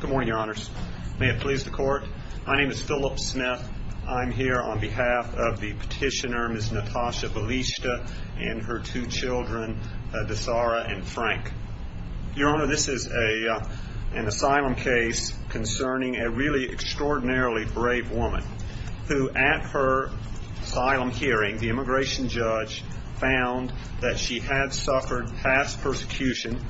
Good morning, Your Honors. May it please the Court, my name is Philip Smith. I'm here on behalf of the petitioner, Ms. Natasha Bilishta, and her two children, Dasara and Frank. Your Honor, this is an asylum case concerning a really extraordinarily brave woman who at her asylum hearing, the immigration judge found that she had suffered past persecution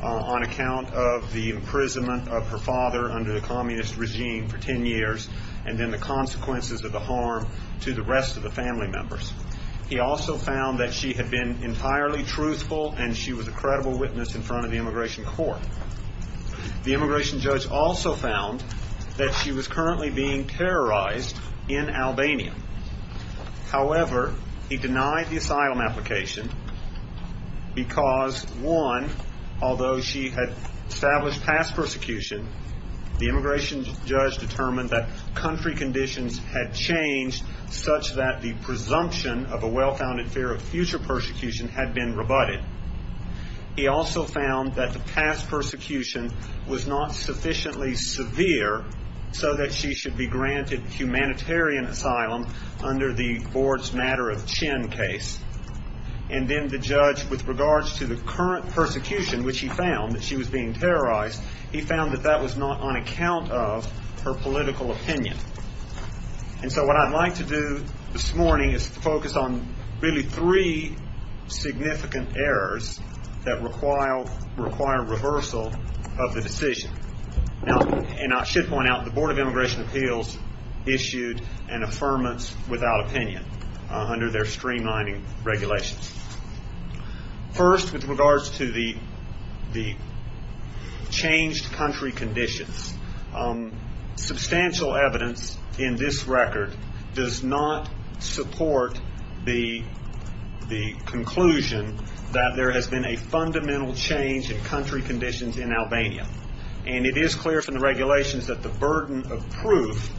on account of the imprisonment of her father under the communist regime for ten years and then the consequences of the harm to the rest of the family members. He also found that she had been entirely truthful and she was a credible witness in front of the immigration court. The immigration judge also found that she was currently being terrorized in Albania. However, he denied the asylum application because one, although she had established past persecution, the immigration judge determined that country conditions had changed such that the presumption of a well-founded fear of future persecution had been rebutted. He also found that the past persecution was not sufficiently severe so that she should be granted humanitarian asylum under the Boards Matter of Chin case. And then the judge, with regards to the current persecution, which he found, that she was being terrorized, he found that that was not on account of her political opinion. And so what I'd like to do this morning is focus on really three significant errors that require reversal of the decision. Now, and I should point out, the Board of Immigration Appeals issued an affirmance without opinion under their streamlining regulations. First, with regards to the changed country conditions, substantial evidence in this record does not support the conclusion that there has been a fundamental change in country conditions in Albania. And it is clear from the regulations that the burden of proof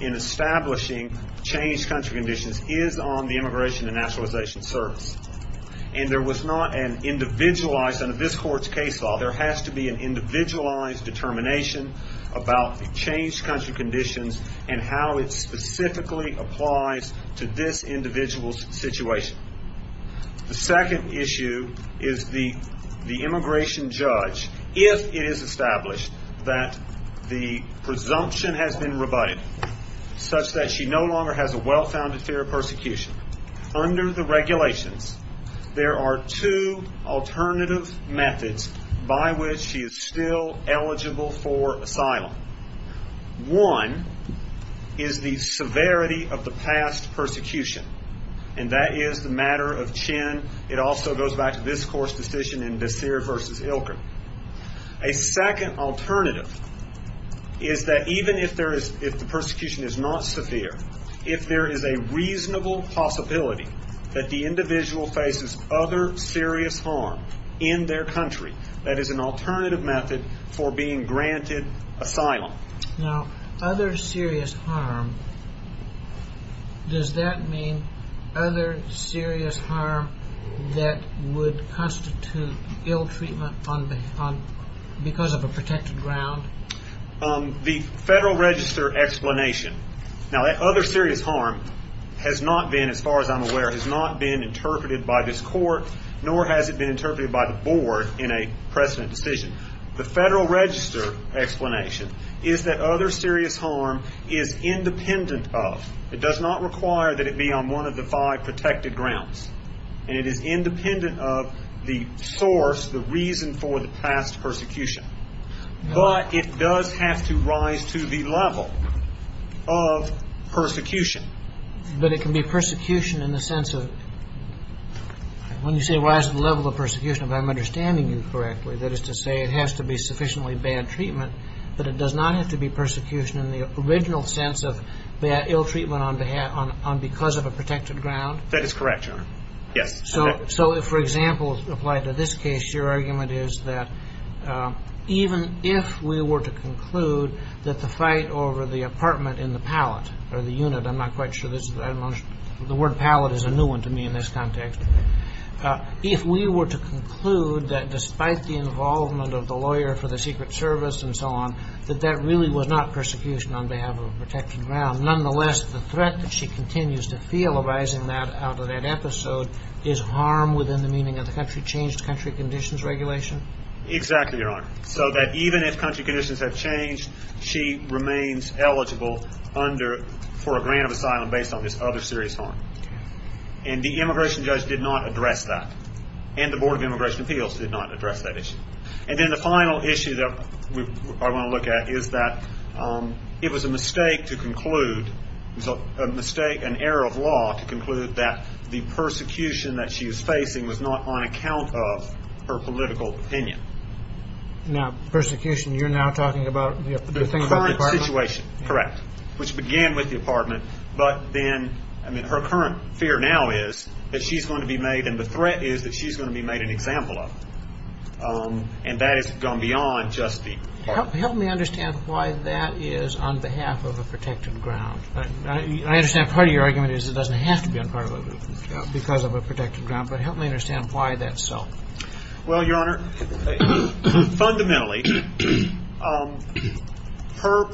in establishing changed country conditions is on the Immigration and Nationalization Service. And there was not an individualized, under this court's case law, there has to be an individualized determination about the changed country conditions and how it specifically applies to this individual's situation. The second issue is the immigration judge, if it is established that the presumption has been rebutted, such that she no longer has a well-founded fear of persecution, under the regulations there are two alternative methods by which she is still eligible for asylum. One is the severity of the past persecution. And that is the matter of Chin. It also goes back to this court's decision in Desir versus Ilken. A second alternative is that even if the persecution is not severe, if there is a reasonable possibility that the individual faces other serious harm in their country, that is an alternative method for being granted asylum. Now, other serious harm, does that mean other serious harm that would constitute ill treatment because of a protected ground? The Federal Register explanation, now that other serious harm has not been, as far as I'm aware, has not been interpreted by this court, nor has it been interpreted by the board in a precedent decision. The Federal Register explanation is that other serious harm is independent of, it does not require that it be on one of the five protected grounds. And it is independent of the source, the reason for the past persecution. But it does have to rise to the level of persecution. But it can be persecution in the sense of, when you say rise to the level of persecution, if I'm understanding you correctly, that is to say it has to be sufficiently bad treatment, but it does not have to be persecution in the original sense of ill treatment because of a protected ground? That is correct, Your Honor. Yes. So if, for example, applied to this case, your argument is that even if we were to conclude that the fight over the apartment in the pallet, or the unit, I'm not quite sure, the word pallet is a new one to me in this context. If we were to conclude that despite the involvement of the lawyer for the Secret Service and so on, that that really was not persecution on behalf of a protected ground, nonetheless the threat that she continues to feel arising out of that episode is harm within the meaning of the country changed country conditions regulation? Exactly, Your Honor. So that even if country conditions have changed, she remains eligible for a grant of asylum based on this other serious harm. And the immigration judge did not address that. And the Board of Immigration Appeals did not address that issue. And then the final issue that I want to look at is that it was a mistake to conclude, an error of law to conclude that the persecution that she was facing was not on account of her political opinion. Now persecution, you're now talking about the thing about the apartment? The current situation, correct, which began with the apartment, but then her current fear now is that she's going to be made, and the threat is that she's going to be made an example of. And that has gone beyond just the apartment. Help me understand why that is on behalf of a protected ground. I understand part of your argument is it doesn't have to be on part of it because of a protected ground, but help me understand why that's so. Well, Your Honor, fundamentally, her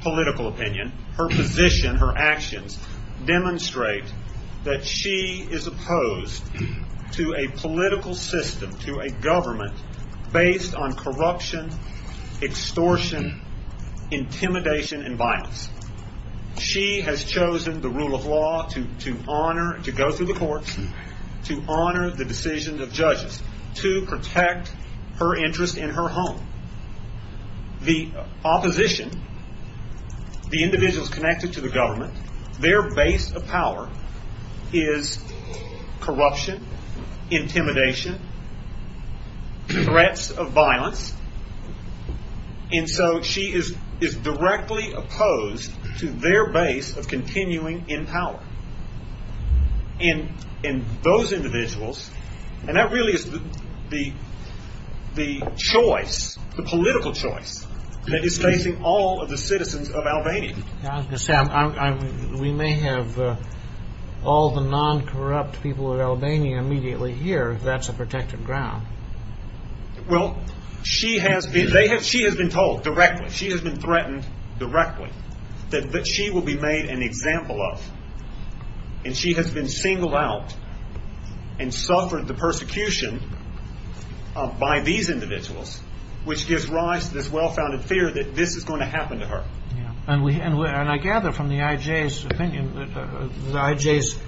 political opinion, her position, her actions, demonstrate that she is opposed to a political system, to a government, based on corruption, extortion, intimidation, and violence. She has chosen the rule of law to honor, to go through the courts, to honor the decisions of judges, to protect her interest in her home. The opposition, the individuals connected to the government, their base of power is corruption, intimidation, threats of violence, and so she is directly opposed to their base of continuing in power. And those individuals, and that really is the choice, the political choice, that is facing all of the citizens of Albania. We may have all the non-corrupt people of Albania immediately here if that's a protected ground. Well, she has been told directly, she has been threatened directly, that she will be made an example of. And she has been singled out and suffered the persecution by these individuals, which gives rise to this well-founded fear that this is going to happen to her. And I gather from the IJ's opinion, the IJ's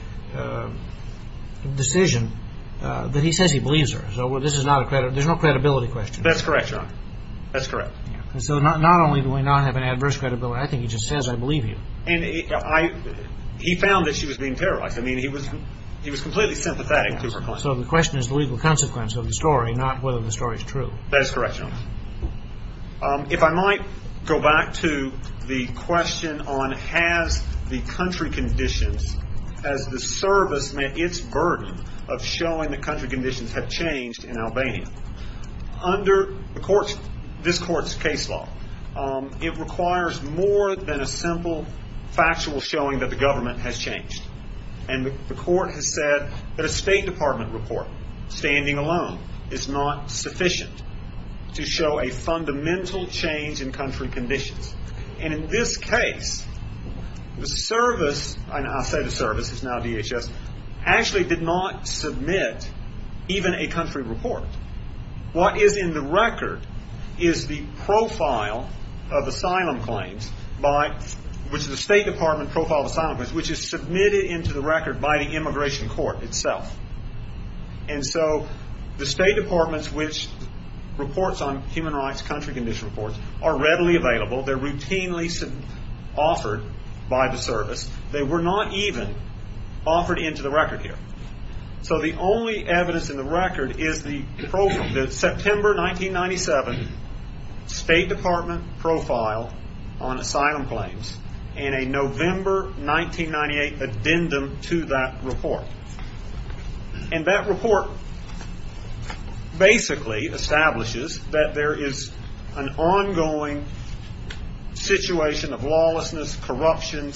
decision, that he says he believes her. So there's no credibility question. That's correct, John. That's correct. So not only do we not have an adverse credibility, I think he just says, I believe you. And he found that she was being terrorized. I mean, he was completely sympathetic to her claims. So the question is the legal consequence of the story, not whether the story is true. That is correct, John. If I might go back to the question on has the country conditions, has the service met its burden of showing that country conditions have changed in Albania. Under this court's case law, it requires more than a simple factual showing that the government has changed. And the court has said that a State Department report, standing alone, is not sufficient to show a fundamental change in country conditions. And in this case, the service, and I say the service, it's now DHS, actually did not submit even a country report. What is in the record is the profile of asylum claims, which is the State Department profile of asylum claims, which is submitted into the record by the immigration court itself. And so the State Department's reports on human rights country condition reports are readily available. They're routinely offered by the service. They were not even offered into the record here. So the only evidence in the record is the September 1997 State Department profile on asylum claims and a November 1998 addendum to that report. And that report basically establishes that there is an ongoing situation of lawlessness, corruption,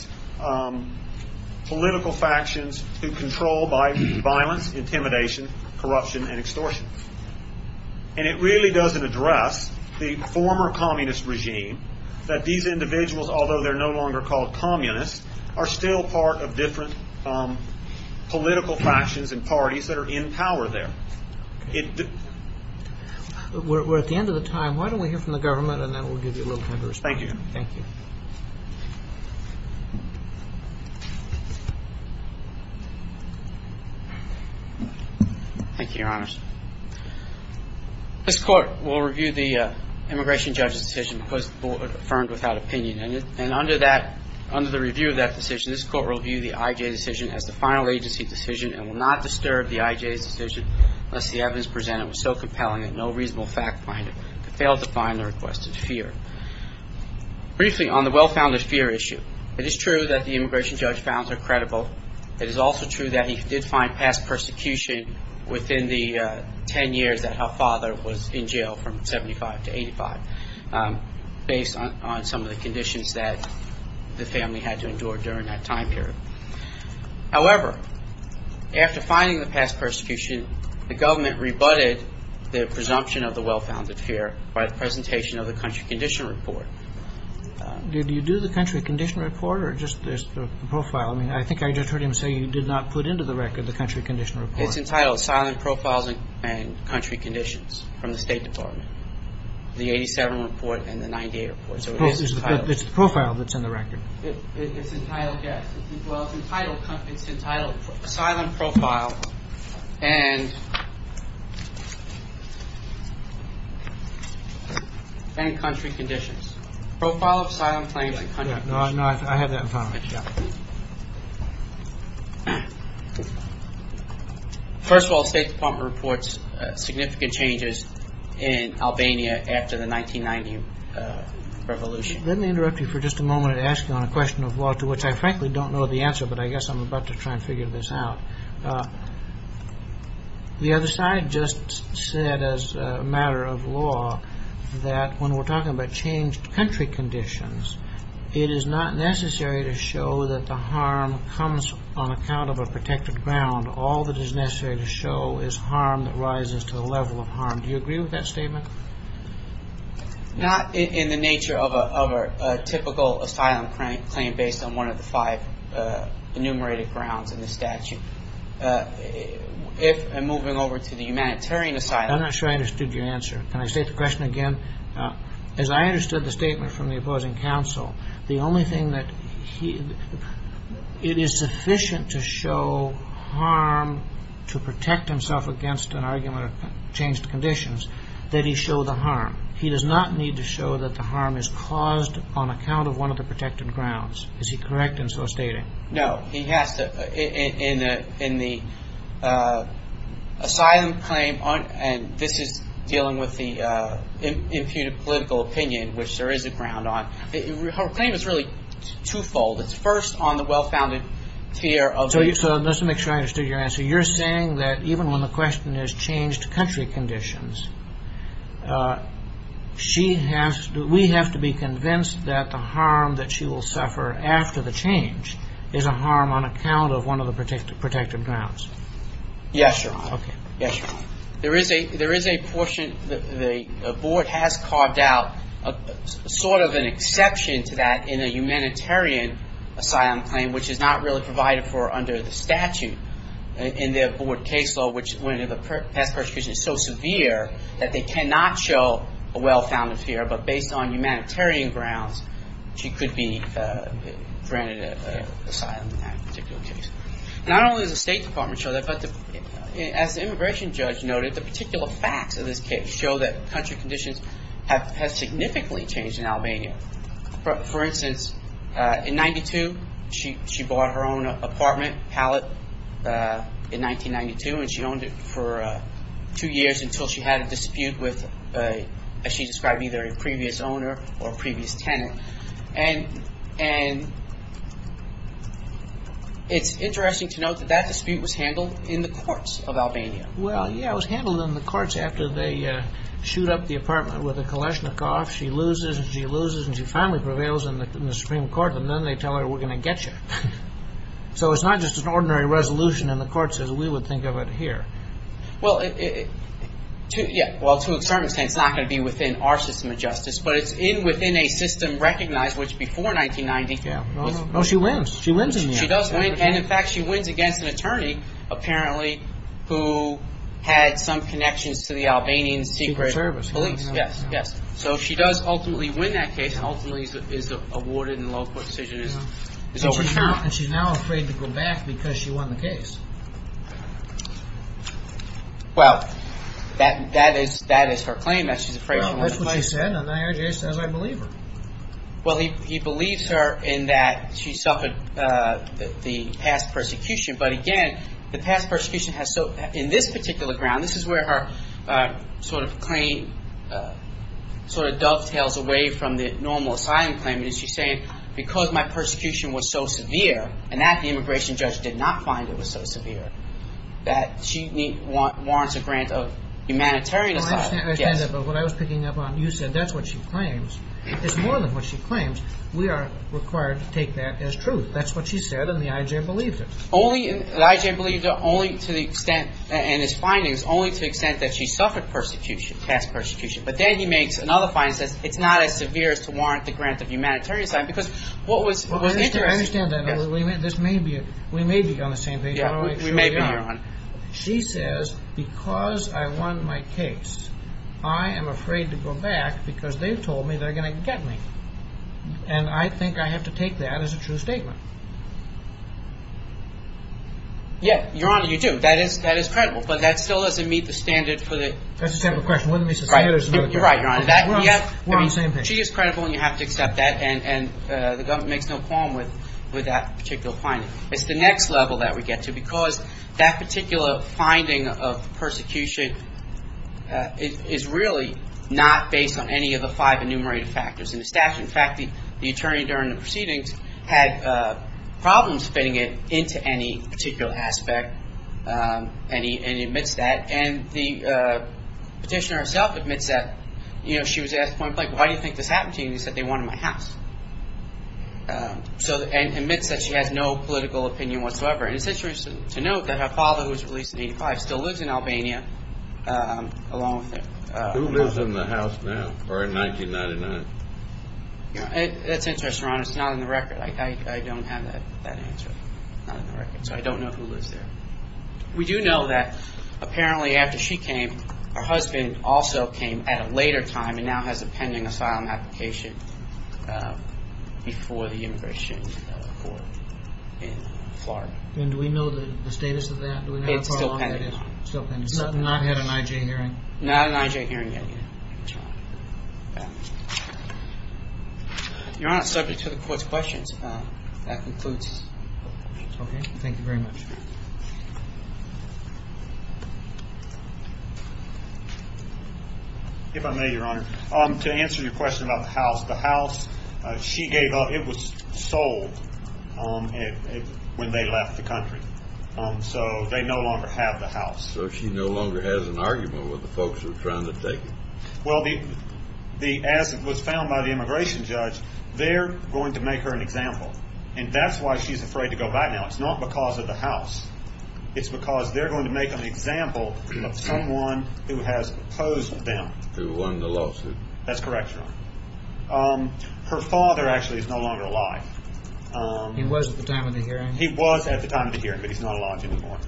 political factions who control by violence, intimidation, corruption, and extortion. And it really doesn't address the former communist regime, that these individuals, although they're no longer called communists, are still part of different political factions and parties that are in power there. We're at the end of the time. Why don't we hear from the government, and then we'll give you a little time to respond. Thank you. Thank you. Thank you, Your Honors. This court will review the immigration judge's decision because it was affirmed without opinion. And under the review of that decision, this court will view the IJ decision as the final agency decision and will not disturb the IJ's decision unless the evidence presented was so compelling that no reasonable fact finder could fail to find the requested fear. Briefly, on the well-founded fear issue, it is true that the immigration judge found her credible. It is also true that he did find past persecution within the 10 years that her father was in jail from 75 to 85, based on some of the conditions that the family had to endure during that time period. However, after finding the past persecution, the government rebutted the presumption of the well-founded fear by the presentation of the country condition report. Did you do the country condition report or just the profile? I mean, I think I just heard him say you did not put into the record the country condition report. It's entitled Silent Profiles and Country Conditions from the State Department. The 87 report and the 98 report. It's the profile that's in the record. It's entitled Silent Profile and Country Conditions. Profile of Silent Claims and Country Conditions. No, I have that in front of me. First of all, the State Department reports significant changes in Albania after the 1990 revolution. Let me interrupt you for just a moment and ask you on a question of law to which I frankly don't know the answer, but I guess I'm about to try and figure this out. The other side just said as a matter of law that when we're talking about changed country conditions, it is not necessary to show that the harm comes on account of a protected ground. All that is necessary to show is harm that rises to the level of harm. Do you agree with that statement? Not in the nature of a typical asylum claim based on one of the five enumerated grounds in the statute. If I'm moving over to the humanitarian asylum. I'm not sure I understood your answer. Can I state the question again? As I understood the statement from the opposing counsel, the only thing that it is sufficient to show harm to protect himself against an argument of changed conditions, that he show the harm. He does not need to show that the harm is caused on account of one of the protected grounds. Is he correct in so stating? No. He has to, in the asylum claim, and this is dealing with the imputed political opinion, which there is a ground on. Her claim is really twofold. It's first on the well-founded tier of. So just to make sure I understood your answer. You're saying that even when the question is changed country conditions, we have to be convinced that the harm that she will suffer after the change is a harm on account of one of the protected grounds. Yes, Your Honor. Okay. Yes, Your Honor. There is a portion, the board has carved out sort of an exception to that in a humanitarian asylum claim, which is not really provided for under the statute in their board case law, which when the past persecution is so severe that they cannot show a well-founded tier, but based on humanitarian grounds, she could be granted asylum in that particular case. Not only does the State Department show that, but as the immigration judge noted, the particular facts of this case show that country conditions have significantly changed in Albania. For instance, in 1992, she bought her own apartment, Hallett, in 1992, and she owned it for two years until she had a dispute with, as she described, either a previous owner or a previous tenant. And it's interesting to note that that dispute was handled in the courts of Albania. Well, yeah, it was handled in the courts after they shoot up the apartment with a Kalashnikov. She loses, and she loses, and she finally prevails in the Supreme Court, and then they tell her, we're going to get you. So it's not just an ordinary resolution, and the court says, we would think of it here. Well, yeah, well, to a certain extent, it's not going to be within our system of justice, but it's in within a system recognized, which before 1990. Well, she wins. She wins in the end. She does win, and in fact, she wins against an attorney, apparently, who had some connections to the Albanian secret police. Yes, yes. So she does ultimately win that case, and ultimately is awarded, and the low court decision is overturned. And she's now afraid to go back because she won the case. Well, that is her claim, that she's afraid to go back. Well, that's what she said, and I heard her say, I believe her. Well, he believes her in that she suffered the past persecution. But again, the past persecution has, in this particular ground, and this is where her sort of claim sort of dovetails away from the normal asylum claim, and she's saying, because my persecution was so severe, and that the immigration judge did not find it was so severe, that she warrants a grant of humanitarian asylum. I understand that, but what I was picking up on, you said that's what she claims. It's more than what she claims. We are required to take that as truth. That's what she said, and the IJ believed it. The IJ believed it only to the extent, in his findings, only to the extent that she suffered persecution, past persecution. But then he makes another finding that it's not as severe as to warrant the grant of humanitarian asylum, because what was interesting. I understand that. We may be on the same page. We may be on. She says, because I won my case, I am afraid to go back because they told me they're going to get me. And I think I have to take that as a true statement. Yeah, Your Honor, you do. That is credible, but that still doesn't meet the standard for the. That's a separate question. One of these is severe. You're right, Your Honor. We're on the same page. She is credible, and you have to accept that, and the government makes no qualms with that particular finding. It's the next level that we get to, because that particular finding of persecution is really not based on any of the five enumerated factors in the statute. In fact, the attorney during the proceedings had problems fitting it into any particular aspect, and he admits that. And the petitioner herself admits that. You know, she was asked at one point, like, why do you think this happened to you? And he said, they wanted my house, and admits that she has no political opinion whatsoever. And it's interesting to note that her father, who was released in 1985, still lives in Albania along with her. Who lives in the house now, or in 1999? That's interesting, Your Honor. It's not in the record. I don't have that answer. So I don't know who lives there. We do know that apparently after she came, her husband also came at a later time and now has a pending asylum application before the Immigration Court in Florida. And do we know the status of that? It's still pending. It's not had an IJ hearing? Not an IJ hearing yet. Your Honor, subject to the Court's questions, that concludes. Okay, thank you very much. Thank you. If I may, Your Honor, to answer your question about the house. The house, she gave up. It was sold when they left the country. So they no longer have the house. So she no longer has an argument with the folks who are trying to take it. Well, as was found by the immigration judge, they're going to make her an example. And that's why she's afraid to go back now. It's not because of the house. It's because they're going to make an example of someone who has opposed them. Who won the lawsuit. That's correct, Your Honor. Her father actually is no longer alive. He was at the time of the hearing. He was at the time of the hearing, but he's not alive anymore.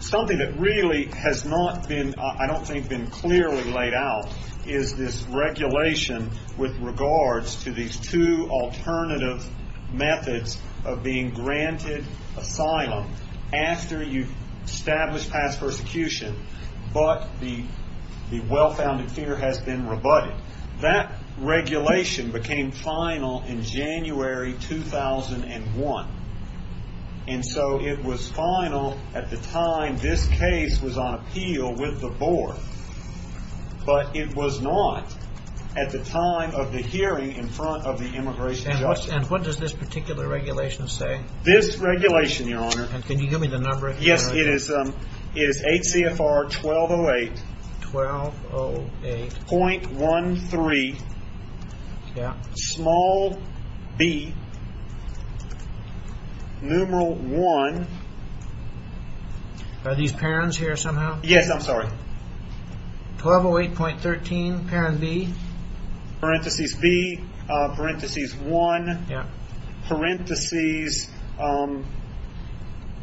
Something that really has not been, I don't think, been clearly laid out is this regulation with regards to these two alternative methods of being granted asylum after you've established past persecution, but the well-founded fear has been rebutted. That regulation became final in January 2001. And so it was final at the time this case was on appeal with the board. But it was not at the time of the hearing in front of the immigration judge. And what does this particular regulation say? This regulation, Your Honor. Can you give me the number here? Yes, it is 8 CFR 1208.13, small b, numeral 1. Are these parents here somehow? Yes, I'm sorry. 1208.13, parent b. Parenthesis b, parenthesis 1, parenthesis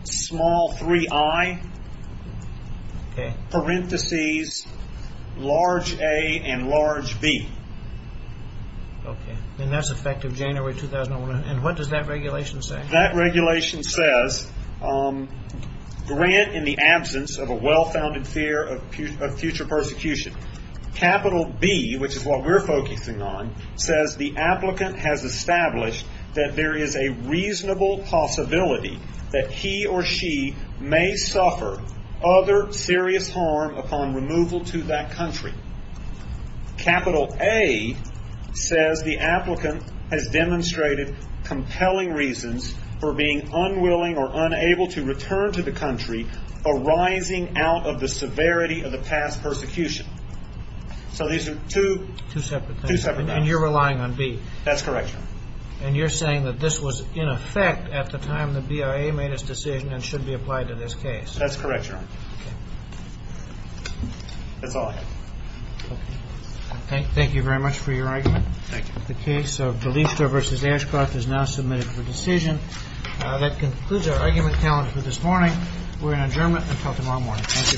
small 3i, parenthesis large a and large b. Okay, and that's effective January 2001. And what does that regulation say? That regulation says grant in the absence of a well-founded fear of future persecution. Capital B, which is what we're focusing on, says the applicant has established that there is a reasonable possibility that he or she may suffer other serious harm upon removal to that country. Capital A says the applicant has demonstrated compelling reasons for being unwilling or unable to return to the country arising out of the severity of the past persecution. So these are two separate things. And you're relying on B. That's correct, Your Honor. And you're saying that this was in effect at the time the BIA made its decision and should be applied to this case. That's correct, Your Honor. That's all I have. Okay. Thank you very much for your argument. The case of D'Alessio v. Ashcroft is now submitted for decision. That concludes our argument calendar for this morning. We're in adjournment until tomorrow morning. Thank you very much. All rise.